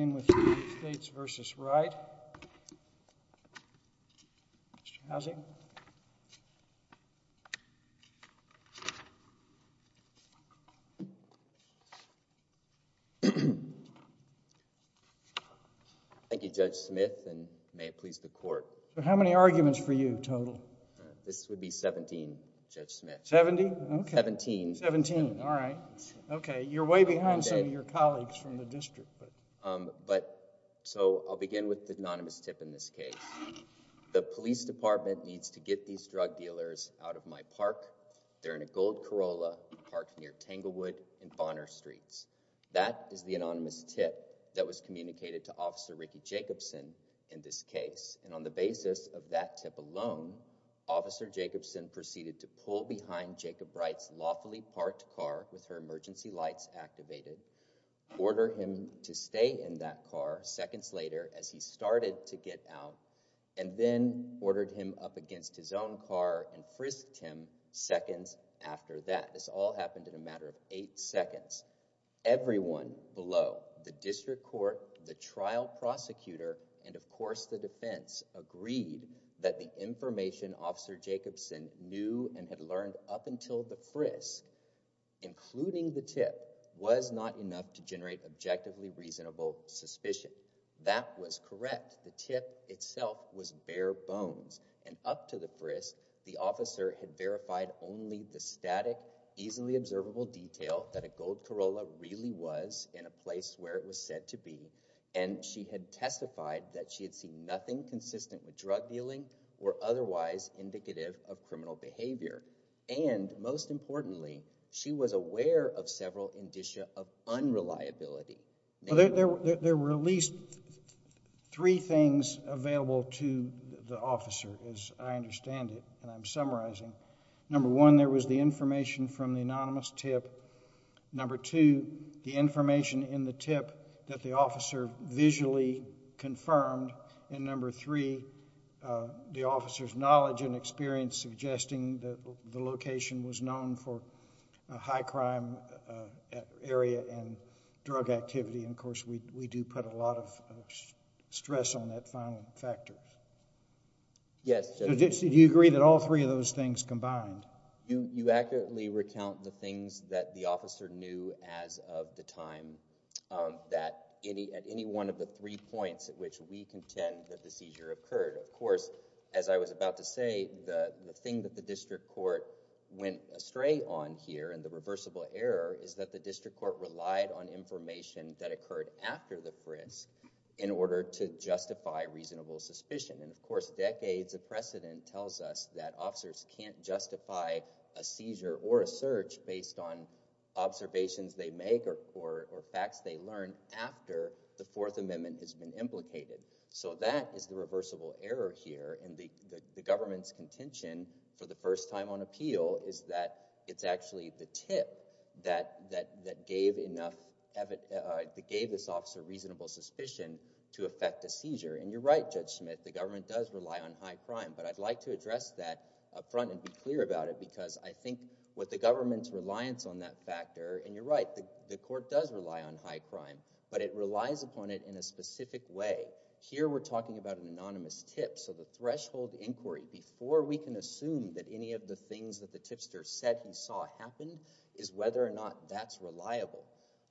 Thank you, Judge Smith, and may it please the Court. How many arguments for you, total? This would be 17, Judge Smith. 70? 17. 17. All right. Okay. You're way behind some of your colleagues from the district, but. But so I'll begin with the anonymous tip in this case. The police department needs to get these drug dealers out of my park. They're in a gold Corolla parked near Tanglewood and Bonner streets. That is the anonymous tip that was communicated to Officer Ricky Jacobson in this case, and on the basis of that tip alone, Officer Jacobson proceeded to pull behind Jacob Wright's lawfully parked car with her emergency lights activated, order him to stay in that car seconds later as he started to get out, and then ordered him up against his own car and frisked him seconds after that. This all happened in a matter of eight seconds. Everyone below, the district court, the trial prosecutor, and of course the defense agreed that the information Officer Jacobson knew and had learned up until the frisk, including the tip, was not enough to generate objectively reasonable suspicion. That was correct. The tip itself was bare bones, and up to the frisk, the officer had verified only the static, easily observable detail that a gold Corolla really was in a place where it was said to be, and she had testified that she had seen nothing consistent with drug dealing or otherwise indicative of criminal behavior, and most importantly, she was aware of several indicia of unreliability. There were at least three things available to the officer, as I understand it, and I'm summarizing. Number one, there was the information from the anonymous tip. Number two, the information in the tip that the officer visually confirmed, and number three, the officer's knowledge and experience suggesting that the location was known for a high crime area and drug activity, and of course we do put a lot of stress on that final factor. Yes. Do you agree that all three of those things combined? You accurately recount the things that the officer knew as of the time, that at any one of the three points at which we contend that the seizure occurred, of course, as I was about to say, the thing that the district court went astray on here and the reversible error is that the district court relied on information that occurred after the frisk in order to justify reasonable suspicion, and of course decades of precedent tells us that officers can't justify a seizure or a search based on observations they make or facts they learn after the Fourth Amendment has been implicated. So that is the reversible error here, and the government's contention for the first time on appeal is that it's actually the tip that gave this officer reasonable suspicion to affect a seizure, and you're right, Judge Smith, the government does rely on high crime, but I'd like to address that up front and be clear about it because I think what the government's reliance on that factor, and you're right, the court does rely on high crime, but it relies upon it in a specific way. Here we're talking about an anonymous tip, so the threshold inquiry before we can assume that any of the things that the tipster said he saw happened is whether or not that's reliable.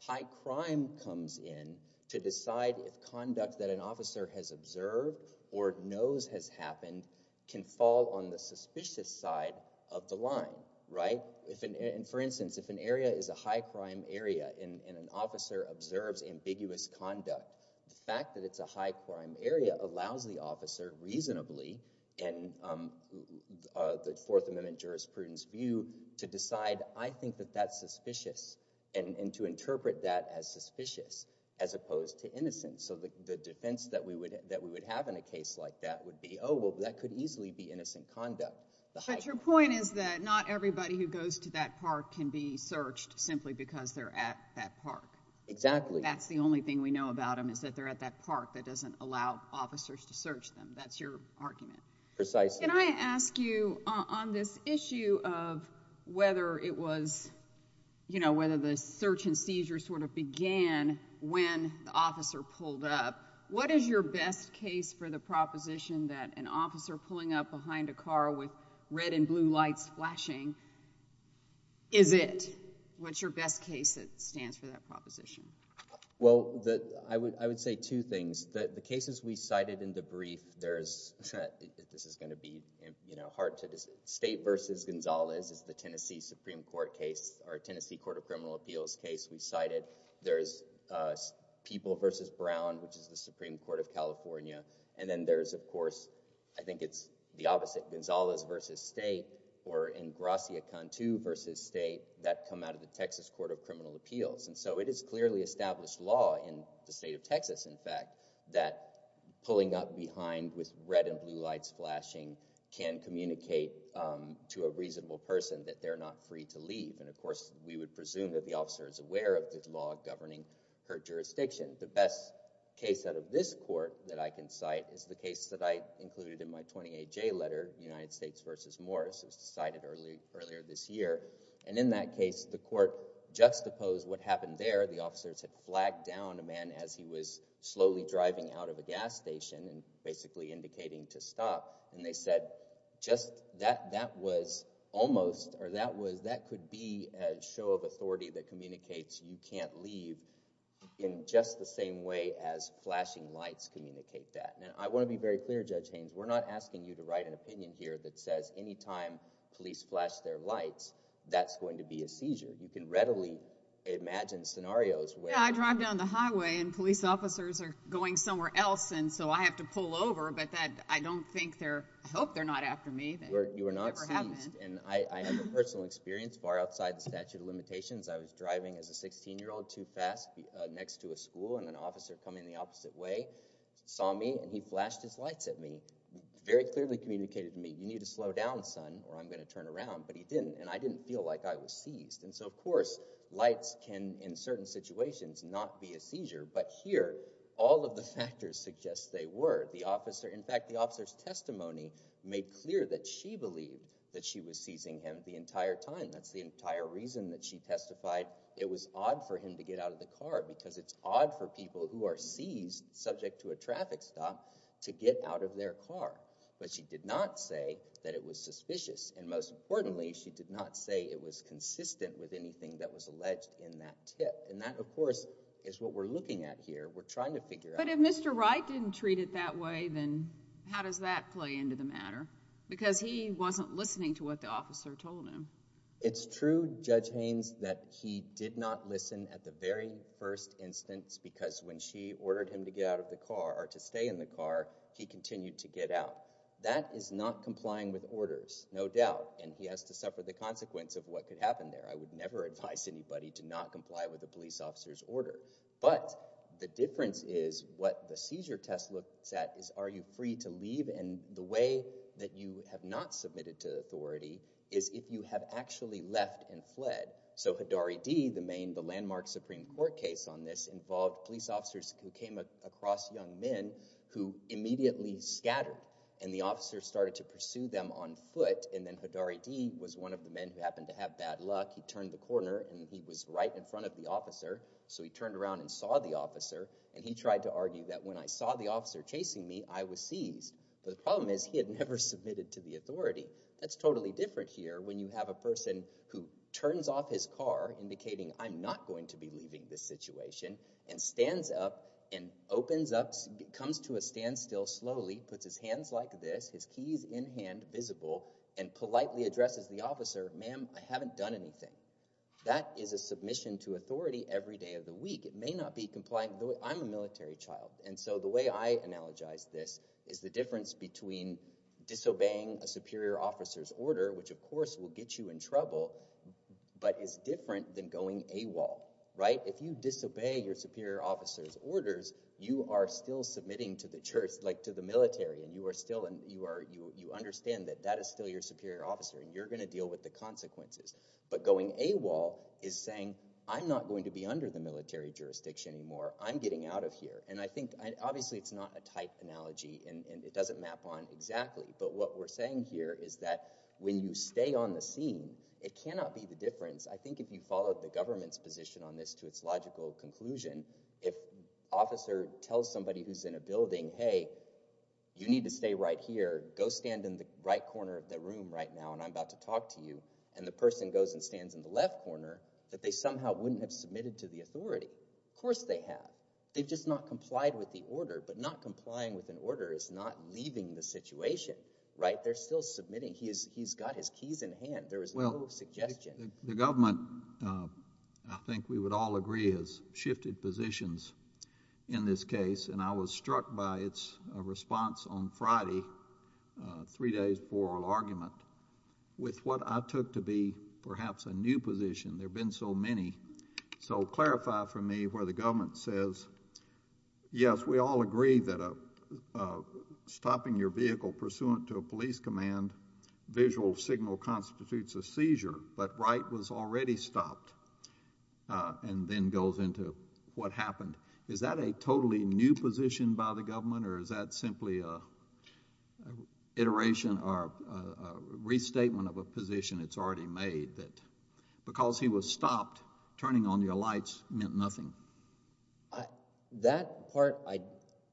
High crime comes in to decide if conduct that an officer has observed or knows has happened can fall on the suspicious side of the line, right? For instance, if an area is a high crime area and an officer observes ambiguous conduct, the fact that it's a high crime area allows the officer reasonably, in the Fourth Amendment jurisprudence view, to decide, I think that that's suspicious, and to interpret that as suspicious as opposed to innocent. So the defense that we would have in a case like that would be, oh, well, that could easily be innocent conduct. But your point is that not everybody who goes to that park can be searched simply because they're at that park. Exactly. That's the only thing we know about them is that they're at that park that doesn't allow officers to search them. That's your argument. Precisely. Can I ask you, on this issue of whether it was, you know, whether the search and seizure sort of began when the officer pulled up, what is your best case for the proposition that an officer pulling up behind a car with red and blue lights flashing is it? What's your best case that stands for that proposition? Well, I would say two things. The cases we cited in the brief, there's, this is going to be, you know, hard to, State v. Gonzalez is the Tennessee Supreme Court case, or Tennessee Court of Criminal Appeals case we cited. There's People v. Brown, which is the Supreme Court of California. And then there's, of course, I think it's the opposite, Gonzalez v. State, or in Gracia Cantu v. State, that come out of the Texas Court of Criminal Appeals. And so it is clearly established law in the state of Texas, in fact, that pulling up behind with red and blue lights flashing can communicate to a reasonable person that they're not free to leave. And of course, we would presume that the officer is aware of the law governing her jurisdiction. The best case out of this court that I can cite is the case that I included in my 28J letter, United States v. Morris, as cited earlier this year. And in that case, the court juxtaposed what happened there. The officers had flagged down a man as he was slowly driving out of a gas station and basically indicating to stop, and they said, just, that, that was almost, or that was, that could be a show of authority that communicates you can't leave in just the same way as flashing lights communicate that. And I want to be very clear, Judge Haynes, we're not asking you to write an opinion here that says any time police flash their lights, that's going to be a seizure. You can readily imagine scenarios where... Yeah, I drive down the highway and police officers are going somewhere else, and so I have to pull over, but that, I don't think they're, I hope they're not after me. You were not seized, and I have a personal experience far outside the statute of limitations. I was driving as a 16-year-old too fast next to a school, and an officer coming the opposite way saw me, and he flashed his lights at me. He very clearly communicated to me, you need to slow down, son, or I'm going to turn around, but he didn't, and I didn't feel like I was seized, and so, of course, lights can, in certain situations, not be a seizure, but here, all of the factors suggest they were. The officer, in fact, the officer's testimony made clear that she believed that she was seizing him the entire time. That's the entire reason that she testified it was odd for him to get out of the car, because it's odd for people who are seized, subject to a traffic stop, to get out of their car, but she did not say that it was suspicious, and most importantly, she did not say it was consistent with anything that was alleged in that tip, and that, of course, is what we're looking at here. We're trying to figure out- But if Mr. Wright didn't treat it that way, then how does that play into the matter? Because he wasn't listening to what the officer told him. It's true, Judge Haynes, that he did not listen at the very first instance, because when she continued to get out, that is not complying with orders, no doubt, and he has to suffer the consequence of what could happen there. I would never advise anybody to not comply with a police officer's order, but the difference is what the seizure test looks at is are you free to leave, and the way that you have not submitted to authority is if you have actually left and fled. So Hidari D., the landmark Supreme Court case on this, involved police officers who came across young men who immediately scattered, and the officers started to pursue them on foot, and then Hidari D. was one of the men who happened to have bad luck. He turned the corner, and he was right in front of the officer, so he turned around and saw the officer, and he tried to argue that when I saw the officer chasing me, I was seized, but the problem is he had never submitted to the authority. That's totally different here when you have a person who turns off his car, indicating I'm not going to be leaving this situation, and stands up and opens up, comes to a standstill slowly, puts his hands like this, his keys in hand, visible, and politely addresses the officer, ma'am, I haven't done anything. That is a submission to authority every day of the week. It may not be complying, I'm a military child, and so the way I analogize this is the difference between disobeying a superior officer's order, which of course will get you in trouble, but is different than going AWOL, right? If you disobey your superior officer's orders, you are still submitting to the church, like to the military, and you understand that that is still your superior officer, and you're going to deal with the consequences, but going AWOL is saying I'm not going to be under the military jurisdiction anymore, I'm getting out of here, and I think obviously it's not a tight analogy, and it doesn't map on exactly, but what we're saying here is that when you stay on the scene, it cannot be the difference, I think if you follow the government's position on this to its logical conclusion, if an officer tells somebody who's in a building, hey, you need to stay right here, go stand in the right corner of the room right now, and I'm about to talk to you, and the person goes and stands in the left corner, that they somehow wouldn't have submitted to the authority, of course they have, they've just not complied with the order, but not complying with an order is not leaving the situation, right? They're still submitting, he's got his keys in hand, there is no suggestion. The government, I think we would all agree, has shifted positions in this case, and I was struck by its response on Friday, three days for argument, with what I took to be perhaps a new position, there have been so many, so clarify for me where the government says, yes, we all agree that stopping your vehicle pursuant to a police command, visual signal constitutes a seizure, but Wright was already stopped, and then goes into what happened. Is that a totally new position by the government, or is that simply an iteration, or a restatement of a position that's already made, that because he was stopped, turning on your lights meant nothing? That part,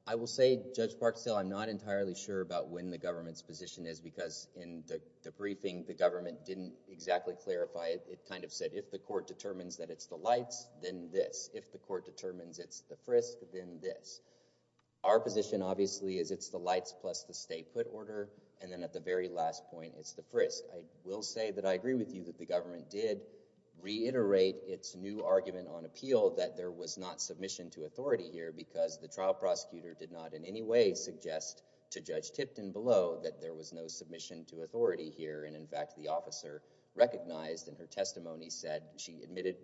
I will say, Judge Parkstale, I'm not entirely sure about when the government's position is, because in the briefing, the government didn't exactly clarify it, it kind of said, if the court determines that it's the lights, then this, if the court determines it's the frisk, then this. Our position, obviously, is it's the lights plus the stay put order, and then at the very last point, it's the frisk. I will say that I agree with you that the government did reiterate its new argument on appeal that there was not submission to authority here, because the trial prosecutor did not in any way suggest to Judge Tipton below that there was no submission to authority here, and in fact, the officer recognized in her testimony said, she admitted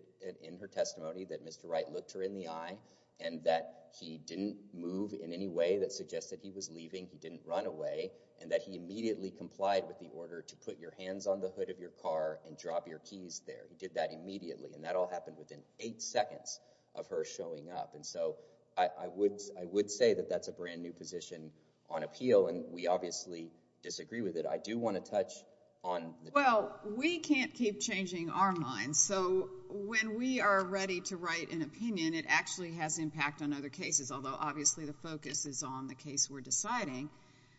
in her testimony that Mr. Wright looked her in the eye, and that he didn't move in any way that suggested he was leaving, he didn't run away, and that he immediately complied with the order to put your hands on the hood of your car and drop your keys there. Judge Tipton did that immediately, and that all happened within eight seconds of her showing up, and so I would say that that's a brand new position on appeal, and we obviously disagree with it. I do want to touch on the- Well, we can't keep changing our minds, so when we are ready to write an opinion, it actually has impact on other cases, although obviously the focus is on the case we're deciding.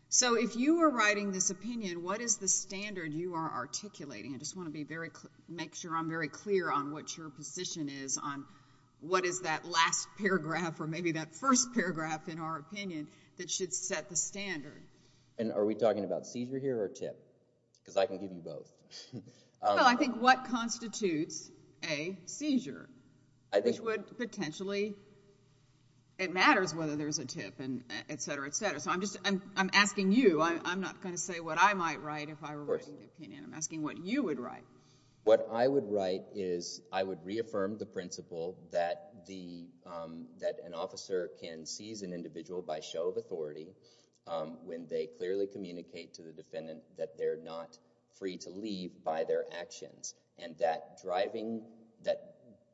So if you were writing this opinion, what is the standard you are articulating? I just want to make sure I'm very clear on what your position is on what is that last paragraph or maybe that first paragraph in our opinion that should set the standard. And are we talking about seizure here or tip? Because I can give you both. Well, I think what constitutes a seizure, which would potentially- It matters whether there's a tip and et cetera, et cetera, so I'm asking you, I'm not going to say what I might write if I were writing the opinion, I'm asking what you would write. What I would write is I would reaffirm the principle that an officer can seize an individual by show of authority when they clearly communicate to the defendant that they're not free to leave by their actions, and that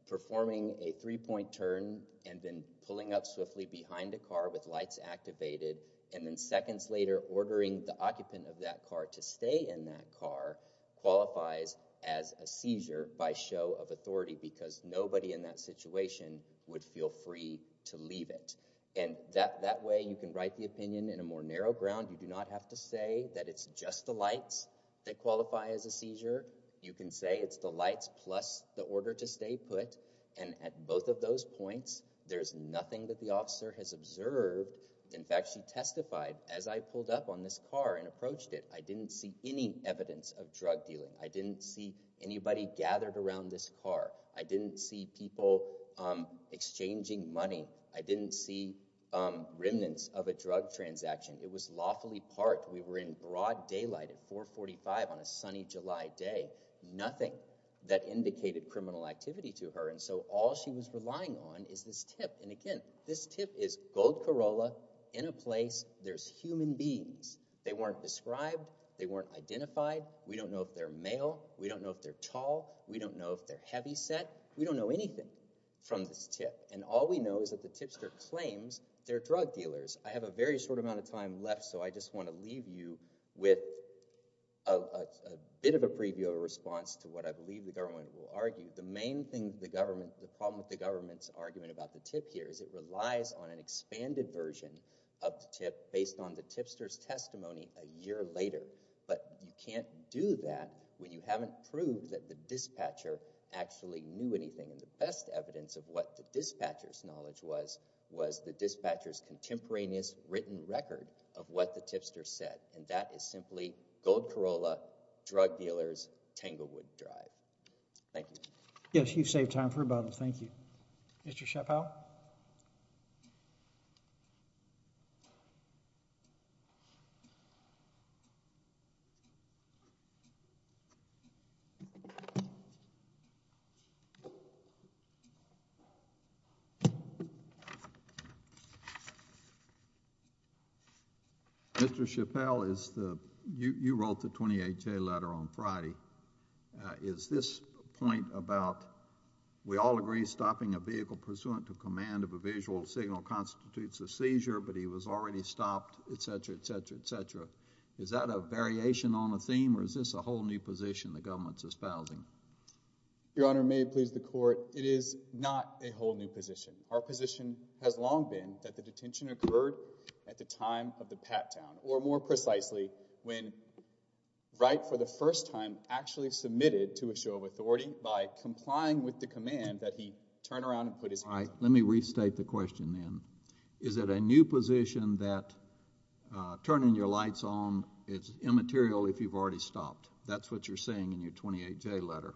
performing a three-point turn and then pulling up swiftly behind a car with lights activated and then seconds later ordering the occupant of that car to stay in that car qualifies as a seizure by show of authority because nobody in that situation would feel free to leave it. And that way you can write the opinion in a more narrow ground. You do not have to say that it's just the lights that qualify as a seizure. You can say it's the lights plus the order to stay put, and at both of those points there's nothing that the officer has observed. In fact, she testified, as I pulled up on this car and approached it, I didn't see any evidence of drug dealing. I didn't see anybody gathered around this car. I didn't see people exchanging money. I didn't see remnants of a drug transaction. It was lawfully parked. We were in broad daylight at 445 on a sunny July day. Nothing that indicated criminal activity to her, and so all she was relying on is this tip. This tip is gold Corolla in a place there's human beings. They weren't described. They weren't identified. We don't know if they're male. We don't know if they're tall. We don't know if they're heavyset. We don't know anything from this tip, and all we know is that the tipster claims they're drug dealers. I have a very short amount of time left, so I just want to leave you with a bit of a preview of a response to what I believe the government will argue. The main problem with the government's argument about the tip here is it relies on an expanded version of the tip based on the tipster's testimony a year later, but you can't do that when you haven't proved that the dispatcher actually knew anything, and the best evidence of what the dispatcher's knowledge was was the dispatcher's contemporaneous written record of what the tipster said, and that is simply gold Corolla, drug dealers, Tanglewood Drive. Thank you. Yes, you've saved time for about a minute. Thank you. Mr. Chappell? Mr. Chappell, you wrote the 28-J letter on Friday. Is this a point about, we all agree stopping a vehicle pursuant to command of a visual signal constitutes a seizure, but he was already stopped, et cetera, et cetera, et cetera. Is that a variation on a theme, or is this a whole new position the government's espousing? Your Honor, may it please the Court, it is not a whole new position. Our position has long been that the detention occurred at the time of the pat-down, or more actually submitted to a show of authority by complying with the command that he turn around and put his... All right. Let me restate the question then. Is it a new position that turning your lights on is immaterial if you've already stopped? That's what you're saying in your 28-J letter.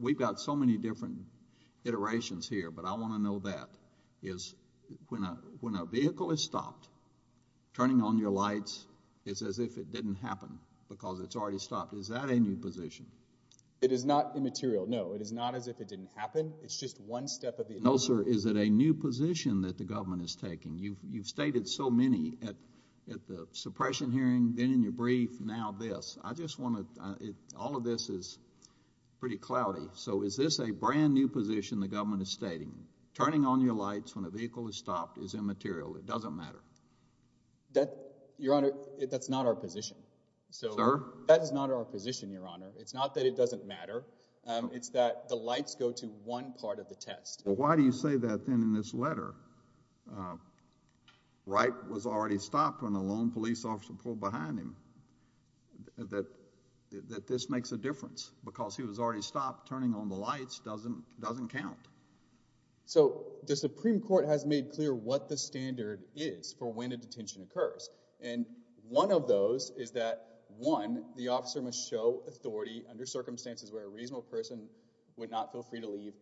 We've got so many different iterations here, but I want to know that. When a vehicle is stopped, turning on your lights is as if it didn't happen because it's already stopped. Is that a new position? It is not immaterial, no. It is not as if it didn't happen. It's just one step of the... No, sir. Is it a new position that the government is taking? You've stated so many at the suppression hearing, then in your brief, now this. I just want to... All of this is pretty cloudy, so is this a brand new position the government is stating? Turning on your lights when a vehicle is stopped is immaterial. Thank you. Thank you. Thank you. Thank you. Thank you. Thank you. Thank you. Thank you. Thank you. Thank you. This is not a new position, Your Honor. It's not that it doesn't matter. It's that the lights go to one part of the test. Why do you say that then in this letter? Wright was already stopped when the lone police officer pulled behind him. This makes a difference. Because he was already stopped, turning on the lights doesn't count. So, the Supreme Court has made clear what the standard is for when a detention occurs, and one of those is that, one, the officer must show authority under circumstances where a reasonable person would not feel free to leave,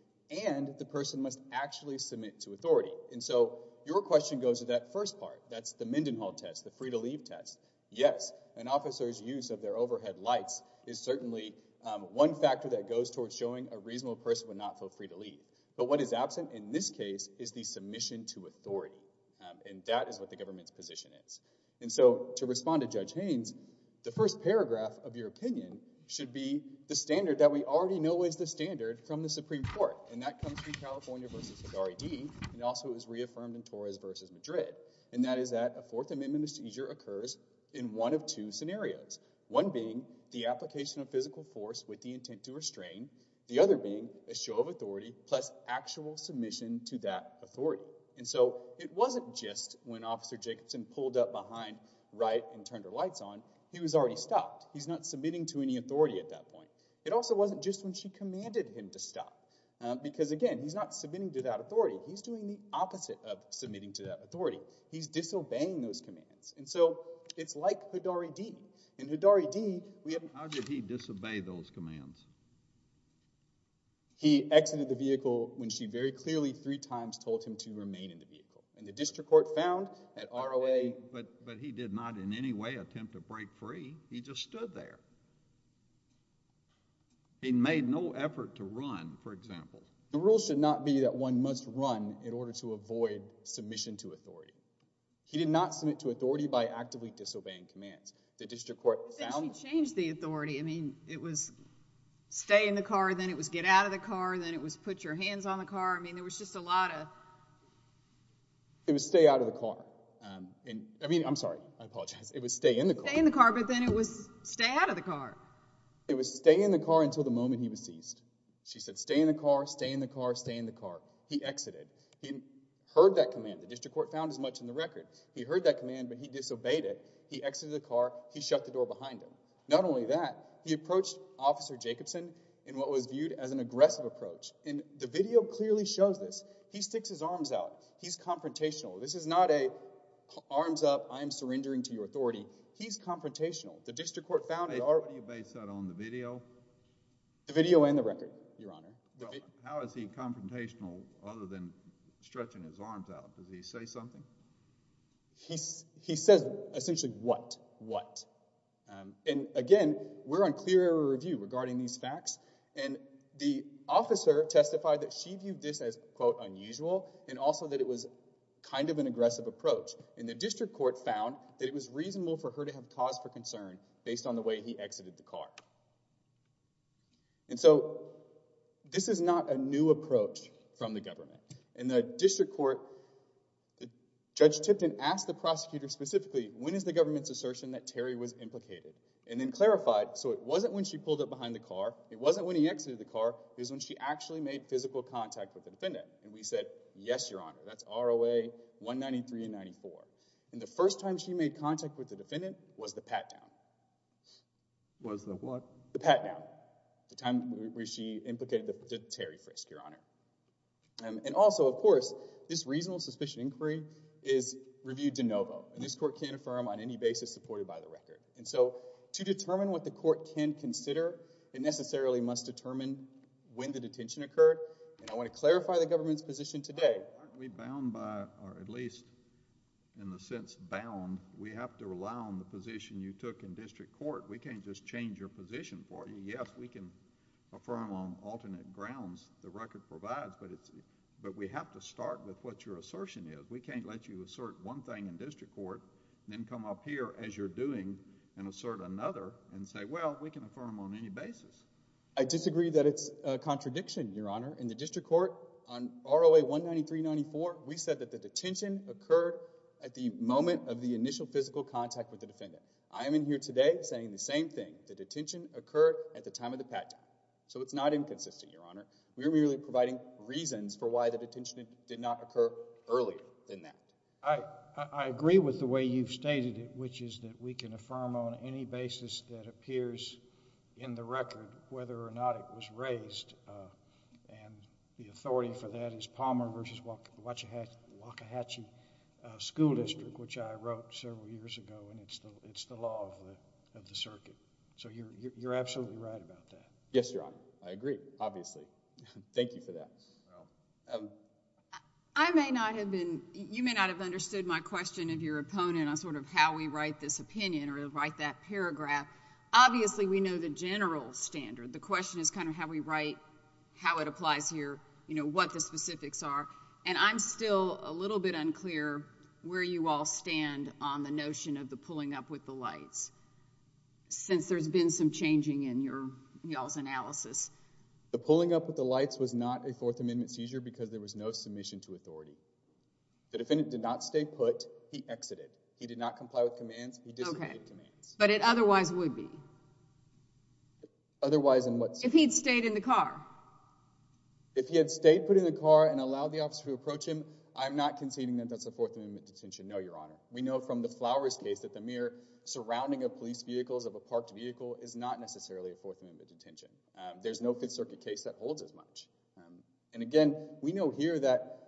and the person must actually submit to authority. And so, your question goes to that first part. That's the Mendenhall test, the free-to-leave test. Yes, an officer's use of their overhead lights is certainly one factor that goes towards showing a reasonable person would not feel free to leave. But what is absent in this case is the submission to authority, and that is what the government's submission is. And so, to respond to Judge Haynes, the first paragraph of your opinion should be the standard that we already know is the standard from the Supreme Court, and that comes from California v. R.E.D., and also is reaffirmed in Torres v. Madrid, and that is that a Fourth Amendment procedure occurs in one of two scenarios, one being the application of physical force with the intent to restrain, the other being a show of authority plus actual submission to that authority. And so, it wasn't just when Officer Jacobson pulled up behind Wright and turned her lights on, he was already stopped. He's not submitting to any authority at that point. It also wasn't just when she commanded him to stop, because again, he's not submitting to that authority. He's doing the opposite of submitting to that authority. He's disobeying those commands. And so, it's like Hidari D. In Hidari D, we have- How did he disobey those commands? He exited the vehicle when she very clearly three times told him to remain in the vehicle. And the district court found that R.O.A. But he did not in any way attempt to break free. He just stood there. He made no effort to run, for example. The rule should not be that one must run in order to avoid submission to authority. He did not submit to authority by actively disobeying commands. The district court found- Stay in the car. Then it was get out of the car. Then it was put your hands on the car. I mean, there was just a lot of- It was stay out of the car. I mean, I'm sorry. I apologize. It was stay in the car. Stay in the car, but then it was stay out of the car. It was stay in the car until the moment he was seized. She said, stay in the car, stay in the car, stay in the car. He exited. He heard that command. The district court found as much in the record. He heard that command, but he disobeyed it. He exited the car. He shut the door behind him. Not only that, he approached officer Jacobson in what was viewed as an aggressive approach. The video clearly shows this. He sticks his arms out. He's confrontational. This is not a arms up, I am surrendering to your authority. He's confrontational. The district court found- What do you base that on? The video? The video and the record, your honor. How is he confrontational other than stretching his arms out? Does he say something? He says essentially what? What? Again, we're on clear air review regarding these facts. The officer testified that she viewed this as, quote, unusual and also that it was kind of an aggressive approach. The district court found that it was reasonable for her to have cause for concern based on the way he exited the car. This is not a new approach from the government. The district court, Judge Tipton asked the prosecutor specifically, when is the government's case implicated? And then clarified, so it wasn't when she pulled up behind the car, it wasn't when he exited the car. It was when she actually made physical contact with the defendant. And we said, yes, your honor, that's ROA 193 and 94. And the first time she made contact with the defendant was the pat-down. Was the what? The pat-down. The time where she implicated Terry Frisk, your honor. And also, of course, this reasonable suspicion inquiry is reviewed de novo and this court can't affirm on any basis supported by the record. And so, to determine what the court can consider, it necessarily must determine when the detention occurred. And I want to clarify the government's position today. Aren't we bound by, or at least in the sense bound, we have to rely on the position you took in district court. We can't just change your position for you. Yes, we can affirm on alternate grounds the record provides, but we have to start with what your assertion is. We can't let you assert one thing in district court, then come up here as you're doing and assert another and say, well, we can affirm on any basis. I disagree that it's a contradiction, your honor. In the district court, on ROA 193-94, we said that the detention occurred at the moment of the initial physical contact with the defendant. I am in here today saying the same thing. The detention occurred at the time of the pat-down. So it's not inconsistent, your honor. We are merely providing reasons for why the detention did not occur earlier than that. I agree with the way you've stated it, which is that we can affirm on any basis that appears in the record whether or not it was raised. And the authority for that is Palmer v. Wachihatchee School District, which I wrote several years ago, and it's the law of the circuit. So you're absolutely right about that. Yes, your honor. I agree, obviously. Thank you for that. I may not have been, you may not have understood my question of your opponent on sort of how we write this opinion or write that paragraph. Obviously, we know the general standard. The question is kind of how we write, how it applies here, you know, what the specifics are, and I'm still a little bit unclear where you all stand on the notion of the pulling up with the lights, since there's been some changing in your, y'all's analysis. The pulling up with the lights was not a Fourth Amendment seizure because there was no submission to authority. The defendant did not stay put, he exited. He did not comply with commands, he disobeyed commands. But it otherwise would be? Otherwise in what sense? If he'd stayed in the car. If he had stayed put in the car and allowed the officer to approach him, I'm not conceding that that's a Fourth Amendment detention, no, your honor. We know from the Flowers case that the mere surrounding of police vehicles of a parked vehicle is not necessarily a Fourth Amendment detention. There's no Fifth Circuit case that holds as much. And again, we know here that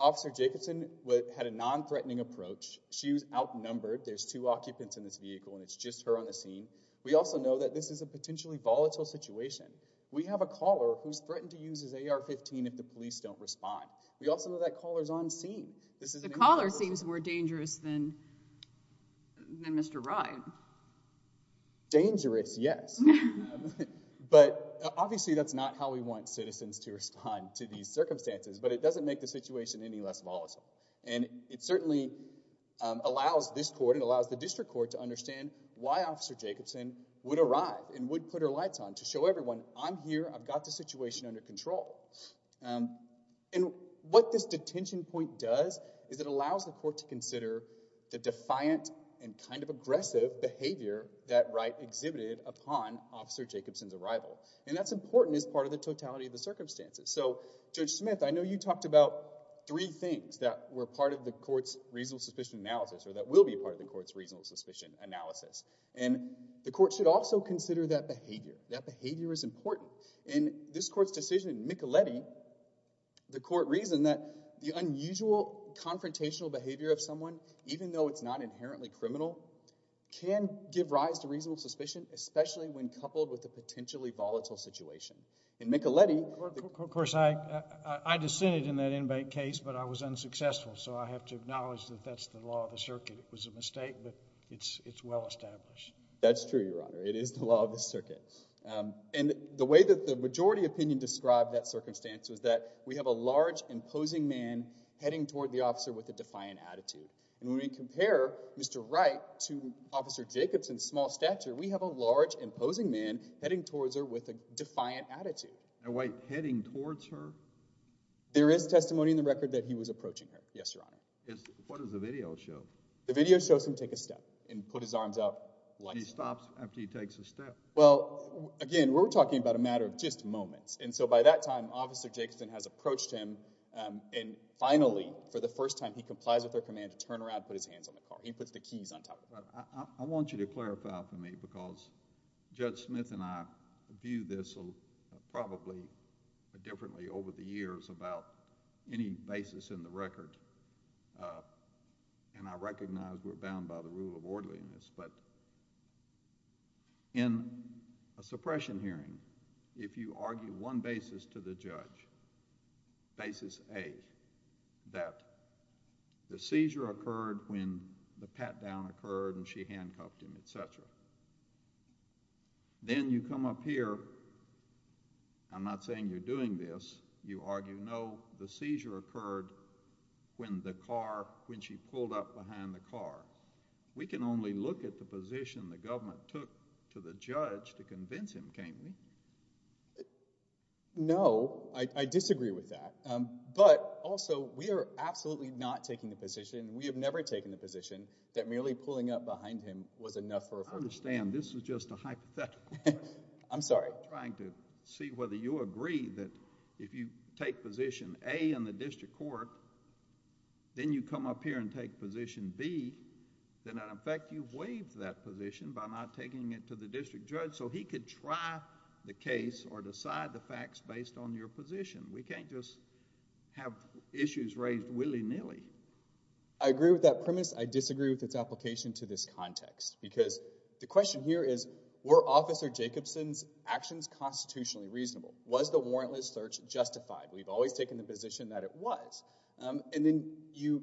Officer Jacobson had a non-threatening approach. She was outnumbered. There's two occupants in this vehicle and it's just her on the scene. We also know that this is a potentially volatile situation. We have a caller who's threatened to use his AR-15 if the police don't respond. We also know that caller's on scene. The caller seems more dangerous than Mr. Ride. Dangerous, yes. But obviously that's not how we want citizens to respond to these circumstances. But it doesn't make the situation any less volatile. And it certainly allows this court, it allows the district court to understand why Officer Jacobson would arrive and would put her lights on to show everyone, I'm here, I've got the situation under control. And what this detention point does is it allows the court to consider the defiant and kind of aggressive behavior that Ride exhibited upon Officer Jacobson's arrival. And that's important as part of the totality of the circumstances. So Judge Smith, I know you talked about three things that were part of the court's reasonable suspicion analysis or that will be part of the court's reasonable suspicion analysis. And the court should also consider that behavior. That behavior is important. And this court's decision in Micheletti, the court reasoned that the unusual confrontational behavior of someone, even though it's not inherently criminal, can give rise to reasonable suspicion, especially when coupled with a potentially volatile situation. In Micheletti... Of course, I dissented in that inmate case, but I was unsuccessful. So I have to acknowledge that that's the law of the circuit. It was a mistake, but it's well established. That's true, Your Honor. It is the law of the circuit. And the way that the majority opinion described that circumstance was that we have a large imposing man heading toward the officer with a defiant attitude. And when we compare Mr. Wright to Officer Jacobson's small stature, we have a large imposing man heading towards her with a defiant attitude. Now, wait. Heading towards her? There is testimony in the record that he was approaching her. Yes, Your Honor. What does the video show? The video shows him take a step and put his arms out like... He stops after he takes a step. Well, again, we're talking about a matter of just moments. And so by that time, Officer Jacobson has approached him, and finally, for the first time, he complies with her command to turn around and put his hands on the car. He puts the keys on top of it. I want you to clarify for me, because Judge Smith and I viewed this probably differently over the years about any basis in the record, and I recognize we're bound by the rule of law. In a suppression hearing, if you argue one basis to the judge, basis A, that the seizure occurred when the pat-down occurred and she handcuffed him, etc., then you come up here, I'm not saying you're doing this, you argue, no, the seizure occurred when the car, when she pulled up behind the car. We can only look at the position the government took to the judge to convince him, can't we? No, I disagree with that. But also, we are absolutely not taking the position, we have never taken the position that merely pulling up behind him was enough for a... I understand. This is just a hypothetical question. I'm sorry. I'm trying to see whether you agree that if you take position A in the district court, then you come up here and take position B, then in effect you've waived that position by not taking it to the district judge so he could try the case or decide the facts based on your position. We can't just have issues raised willy-nilly. I agree with that premise. I disagree with its application to this context because the question here is were Officer Jacobson's actions constitutionally reasonable? Was the warrantless search justified? We've always taken the position that it was. And then you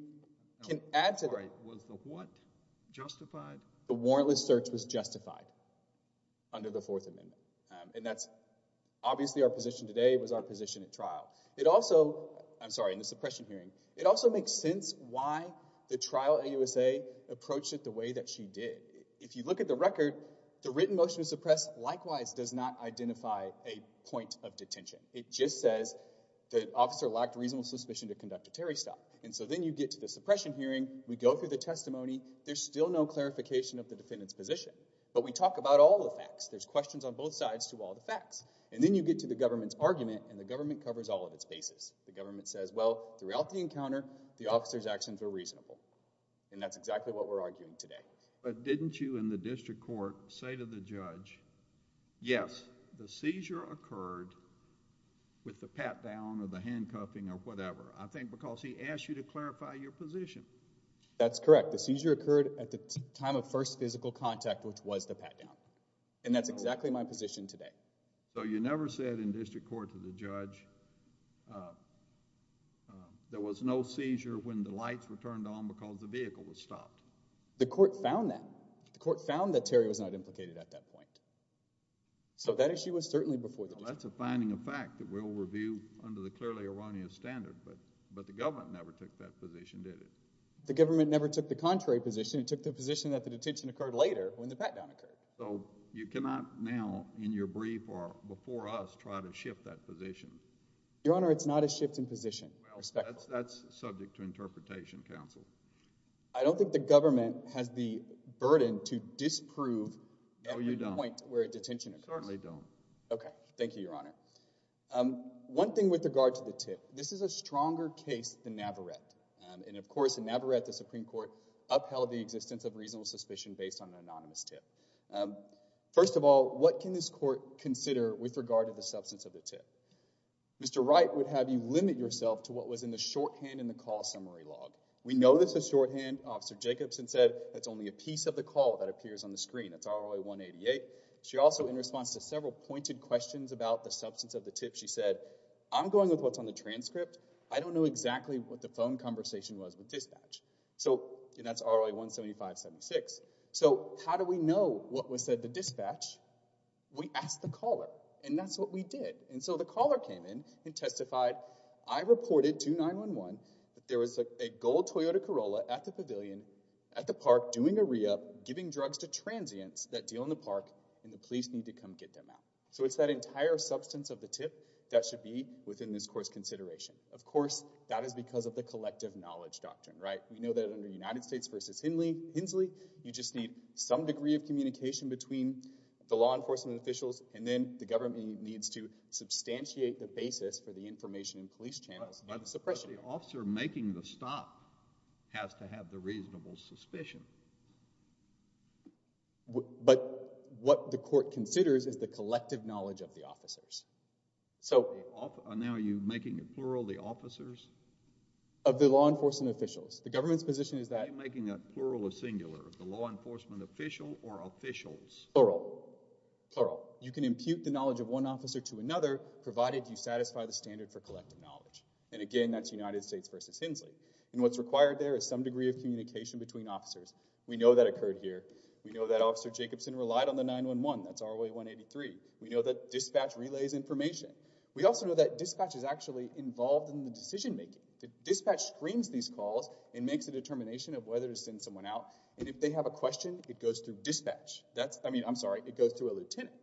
can add to that... I'm sorry. Was the what justified? The warrantless search was justified under the Fourth Amendment. And that's obviously our position today was our position at trial. It also... I'm sorry, in the suppression hearing. It also makes sense why the trial at USA approached it the way that she did. If you look at the record, the written motion to suppress likewise does not identify a point of detention. It just says the officer lacked reasonable suspicion to conduct a terry stop. And so then you get to the suppression hearing, we go through the testimony, there's still no clarification of the defendant's position. But we talk about all the facts. There's questions on both sides to all the facts. And then you get to the government's argument and the government covers all of its bases. The government says, well, throughout the encounter, the officer's actions were reasonable. And that's exactly what we're arguing today. But didn't you in the district court say to the judge, yes, the seizure occurred with the pat down or the handcuffing or whatever? I think because he asked you to clarify your position. That's correct. The seizure occurred at the time of first physical contact, which was the pat down. And that's exactly my position today. So you never said in district court to the judge there was no seizure when the lights were turned on because the vehicle was stopped? The court found that. The court found that Terry was not implicated at that point. So that issue was certainly before the judge. Well, that's a finding of fact that we'll review under the clearly erroneous standard. But the government never took that position, did it? The government never took the contrary position. It took the position that the detention occurred later when the pat down occurred. So you cannot now in your brief or before us try to shift that position? Your Honor, it's not a shift in position. Respectfully. Well, that's subject to interpretation, counsel. I don't think the government has the burden to disprove every point where a detention occurs. Certainly don't. Okay. Thank you, Your Honor. One thing with regard to the tip. This is a stronger case than Navarrete. And of course, in Navarrete, the Supreme Court upheld the existence of reasonable suspicion based on an anonymous tip. First of all, what can this court consider with regard to the substance of the tip? Mr. Wright would have you limit yourself to what was in the shorthand in the call summary log. We know that the shorthand, Officer Jacobson said, that's only a piece of the call that appears on the screen. That's RLA 188. She also, in response to several pointed questions about the substance of the tip, she said, I'm going with what's on the transcript. I don't know exactly what the phone conversation was with dispatch. So that's RLA 17576. So how do we know what was said to dispatch? We asked the caller. And that's what we did. And so the caller came in and testified, I reported to 911 that there was a gold Toyota Corolla at the pavilion at the park doing a re-up, giving drugs to transients that deal in the park, and the police need to come get them out. So it's that entire substance of the tip that should be within this court's consideration. Of course, that is because of the collective knowledge doctrine, right? We know that under United States v. Hinsley, you just need some degree of communication between the law enforcement officials, and then the government needs to substantiate the basis for the information in police channels and suppression. But the officer making the stop has to have the reasonable suspicion. But what the court considers is the collective knowledge of the officers. So now you're making it plural, the officers? Of the law enforcement officials. The government's position is that. I'm making that plural or singular, the law enforcement official or officials. Plural. Plural. You can impute the knowledge of one officer to another, provided you satisfy the standard for collective knowledge. And again, that's United States v. Hinsley. And what's required there is some degree of communication between officers. We know that occurred here. We know that Officer Jacobson relied on the 911, that's ROA 183. We know that dispatch relays information. We also know that dispatch is actually involved in the decision making. The dispatch screens these calls and makes a determination of whether to send someone out. And if they have a question, it goes through dispatch. That's, I mean, I'm sorry, it goes through a lieutenant.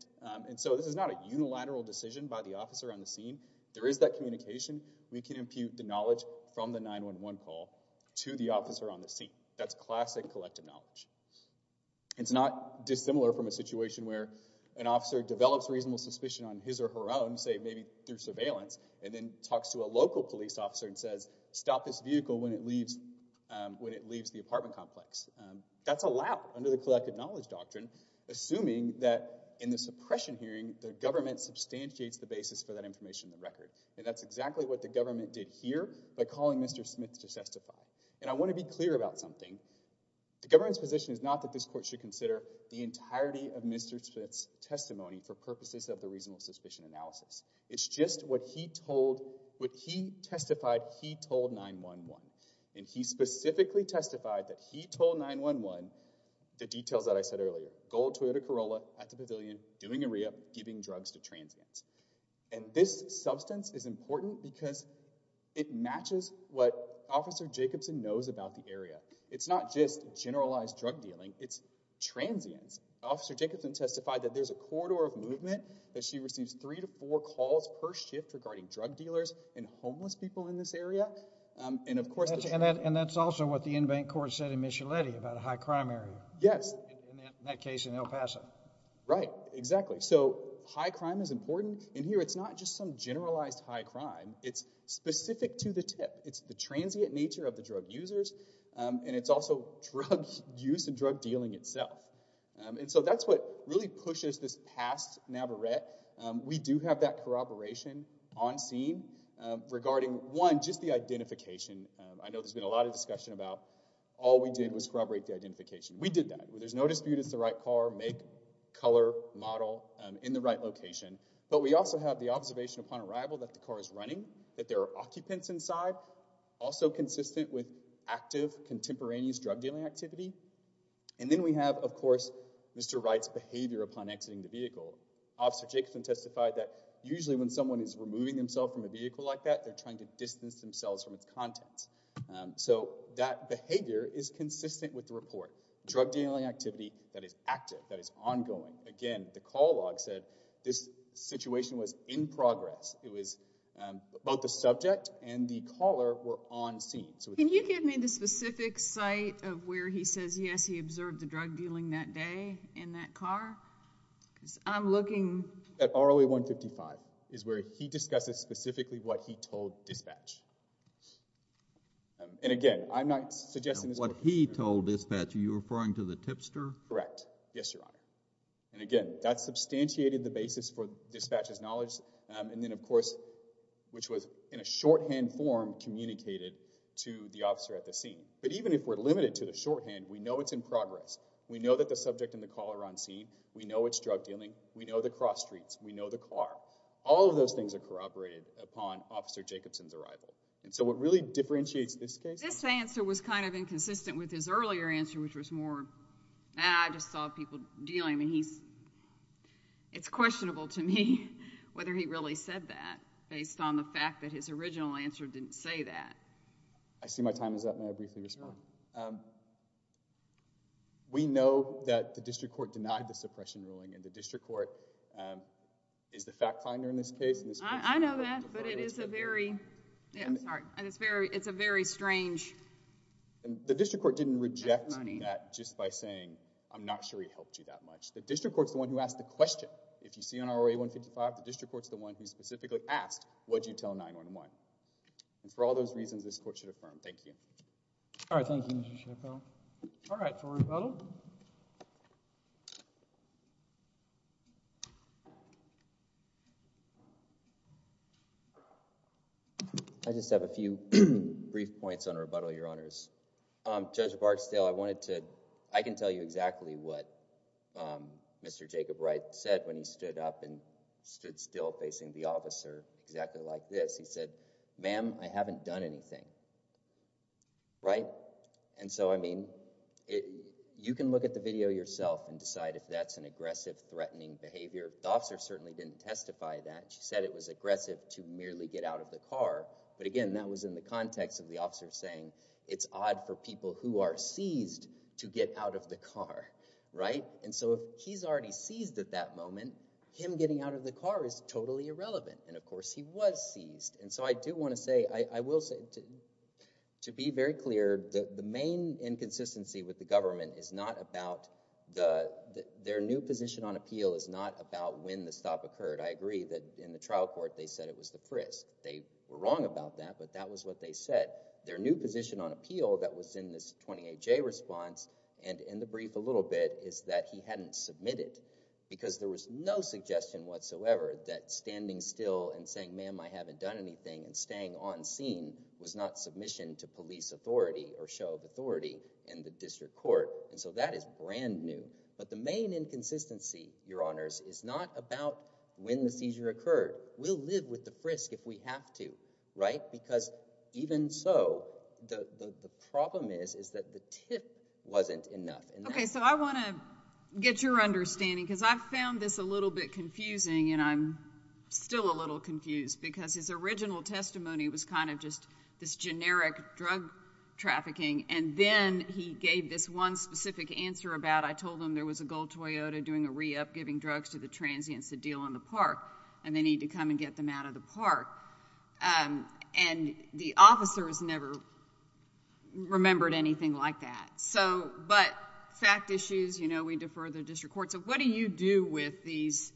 And so this is not a unilateral decision by the officer on the scene. There is that communication. We can impute the knowledge from the 911 call to the officer on the scene. That's classic collective knowledge. It's not dissimilar from a situation where an officer develops reasonable suspicion on his or her own, say maybe through surveillance, and then talks to a local police officer and says, stop this vehicle when it leaves the apartment complex. That's allowed under the collective knowledge doctrine, assuming that in the suppression hearing, the government substantiates the basis for that information in the record. And that's exactly what the government did here by calling Mr. Smith to testify. And I want to be clear about something. The government's position is not that this court should consider the entirety of Mr. Smith's testimony for purposes of the reasonable suspicion analysis. It's just what he told, what he testified he told 911. And he specifically testified that he told 911 the details that I said earlier. Gold Toyota Corolla at the pavilion, doing a re-up, giving drugs to transients. And this substance is important because it matches what Officer Jacobson knows about the area. It's not just generalized drug dealing, it's transients. Officer Jacobson testified that there's a corridor of movement that she receives three to four calls per shift regarding drug dealers and homeless people in this area. And of course- And that's also what the in-bank court said in Miscellany about a high crime area. Yes. In that case in El Paso. Right, exactly. So high crime is important. And here it's not just some generalized high crime. It's specific to the tip. It's the transient nature of the drug users. And it's also drug use and drug dealing itself. And so that's what really pushes this past NABARETTE. We do have that corroboration on scene regarding, one, just the identification. I know there's been a lot of discussion about all we did was corroborate the identification. We did that. There's no dispute it's the right car, make, color, model, in the right location. But we also have the observation upon arrival that the car is running, that there are occupants inside. Also consistent with active contemporaneous drug dealing activity. And then we have, of course, Mr. Wright's behavior upon exiting the vehicle. Officer Jacobson testified that usually when someone is removing themselves from a vehicle like that, they're trying to distance themselves from its contents. So that behavior is consistent with the report. Drug dealing activity that is active, that is ongoing. Again, the call log said this situation was in progress. It was both the subject and the caller were on scene. Can you give me the specific site of where he says, yes, he observed the drug dealing that day in that car? Because I'm looking- At ROA 155, is where he discusses specifically what he told dispatch. And again, I'm not suggesting- What he told dispatch, are you referring to the tipster? Correct. Yes, your honor. And again, that substantiated the basis for dispatch's knowledge. And then of course, which was in a shorthand form communicated to the officer at the scene. But even if we're limited to the shorthand, we know it's in progress. We know that the subject and the caller are on scene. We know it's drug dealing. We know the cross streets. We know the car. All of those things are corroborated upon Officer Jacobson's arrival. And so what really differentiates this case- This answer was kind of inconsistent with his earlier answer, which was more, I just saw people dealing. I mean, it's questionable to me whether he really said that based on the fact that his original answer didn't say that. I see my time is up, may I briefly respond? We know that the district court denied the suppression ruling. And the district court is the fact finder in this case. I know that, but it is a very strange testimony. The district court didn't reject that just by saying, I'm not sure he helped you that much. The district court's the one who asked the question. If you see on ROA 155, the district court's the one who specifically asked, would you tell 9-1-1? And for all those reasons, this court should affirm. Thank you. All right, thank you, Mr. Chappell. All right, for rebuttal. I just have a few brief points on rebuttal, your honors. Judge Barksdale, I wanted to, I can tell you exactly what Mr. Jacob Wright said when he stood up and stood still facing the officer exactly like this. He said, ma'am, I haven't done anything, right? And so, I mean, you can look at the video yourself and decide if that's an aggressive, threatening behavior. The officer certainly didn't testify that. She said it was aggressive to merely get out of the car. But again, that was in the context of the officer saying, it's odd for people who are seized to get out of the car, right? And so if he's already seized at that moment, him getting out of the car is totally irrelevant. And of course, he was seized. And so I do want to say, I will say, to be very clear, the main inconsistency with the government is not about their new position on appeal is not about when the stop occurred. I agree that in the trial court, they said it was the frisk. They were wrong about that, but that was what they said. Their new position on appeal that was in this 28J response and in the brief a little bit is that he hadn't submitted. Because there was no suggestion whatsoever that standing still and saying, ma'am, I haven't done anything and staying on scene was not submission to police authority or show of authority in the district court. And so that is brand new. But the main inconsistency, Your Honors, is not about when the seizure occurred. We'll live with the frisk if we have to, right? Because even so, the problem is that the tip wasn't enough. OK, so I want to get your understanding, because I found this a little bit confusing. And I'm still a little confused, because his original testimony was kind of just this generic drug trafficking. And then he gave this one specific answer about, I told him there was a gold Toyota doing a re-up, giving drugs to the transients to deal in the park, and they need to come and get them out of the park. And the officer has never remembered anything like that. But fact issues, we defer the district court. So what do you do with these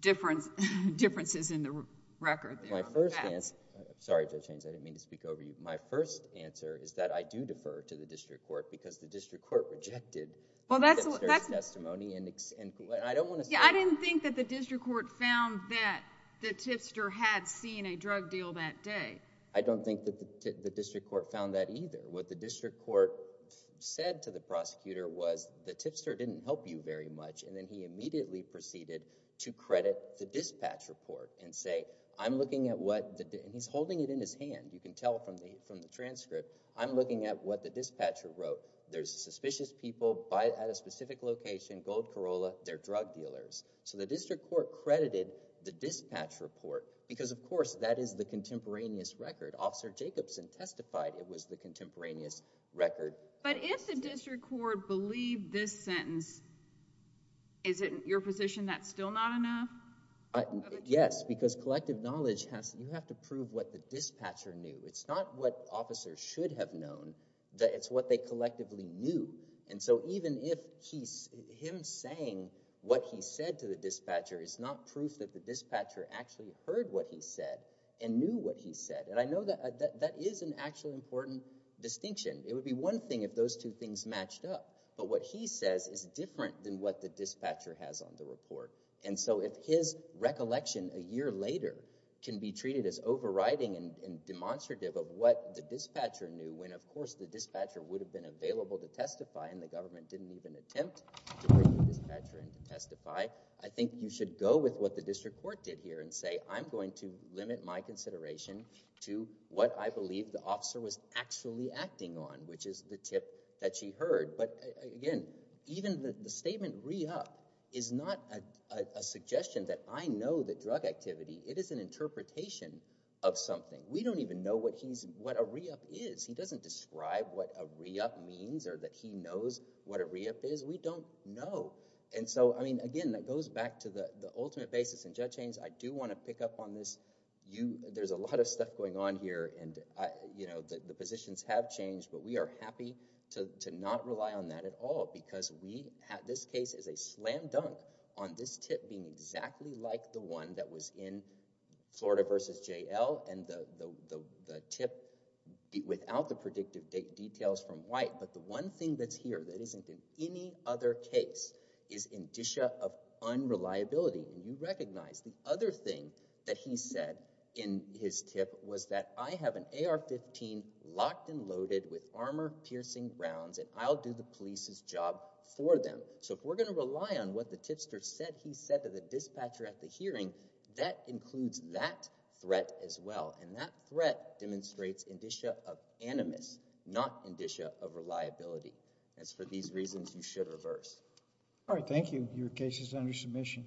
differences in the record? My first answer, sorry, Judge Haynes, I didn't mean to speak over you. My first answer is that I do defer to the district court, because the district court rejected the tipster's testimony, and I don't want to say that. Yeah, I didn't think that the district court found that the tipster had seen a drug deal that day. I don't think that the district court found that either. What the district court said to the prosecutor was the tipster didn't help you very much, and then he immediately proceeded to credit the dispatch report and say, I'm looking at what the, and he's holding it in his hand. You can tell from the transcript, I'm looking at what the dispatcher wrote. There's suspicious people at a specific location, gold Corolla, they're drug dealers. So the district court credited the dispatch report, because of course, that is the contemporaneous record. Officer Jacobson testified it was the contemporaneous record. But if the district court believed this sentence, is it your position that's still not enough? Yes, because collective knowledge, you have to prove what the dispatcher knew. It's not what officers should have known. It's what they collectively knew. And so even if him saying what he said to the dispatcher is not proof that the dispatcher actually heard what he said and knew what he said. And I know that that is an actually important distinction. It would be one thing if those two things matched up. But what he says is different than what the dispatcher has on the report. And so if his recollection a year later can be treated as overriding and demonstrative of what the dispatcher knew, when of course the dispatcher would have been available to testify and the government didn't even attempt to bring the dispatcher in to testify, I think you should go with what the district court did here and say, I'm going to limit my consideration to what I believe the officer was actually acting on, which is the tip that she heard. But again, even the statement re-up is not a suggestion that I know the drug activity. It is an interpretation of something. We don't even know what a re-up is. He doesn't describe what a re-up means or that he knows what a re-up is. We don't know. And so I mean, again, that goes back to the ultimate basis in judge Haynes. I do want to pick up on this. There's a lot of stuff going on here, and the positions have changed. But we are happy to not rely on that at all, because we had this case as a slam dunk on this tip being exactly like the one that was in Florida versus JL and the tip without the predictive details from White. But the one thing that's here that isn't in any other case is indicia of unreliability. And you recognize the other thing that he said in his tip was that I have an AR-15 locked and loaded with armor-piercing rounds, and I'll do the police's job for them. So if we're going to rely on what the tipster said he said to the dispatcher at the hearing, that includes that threat as well. And that threat demonstrates indicia of animus, not indicia of reliability. As for these reasons, you should reverse. All right. Thank you. Your case is under submission.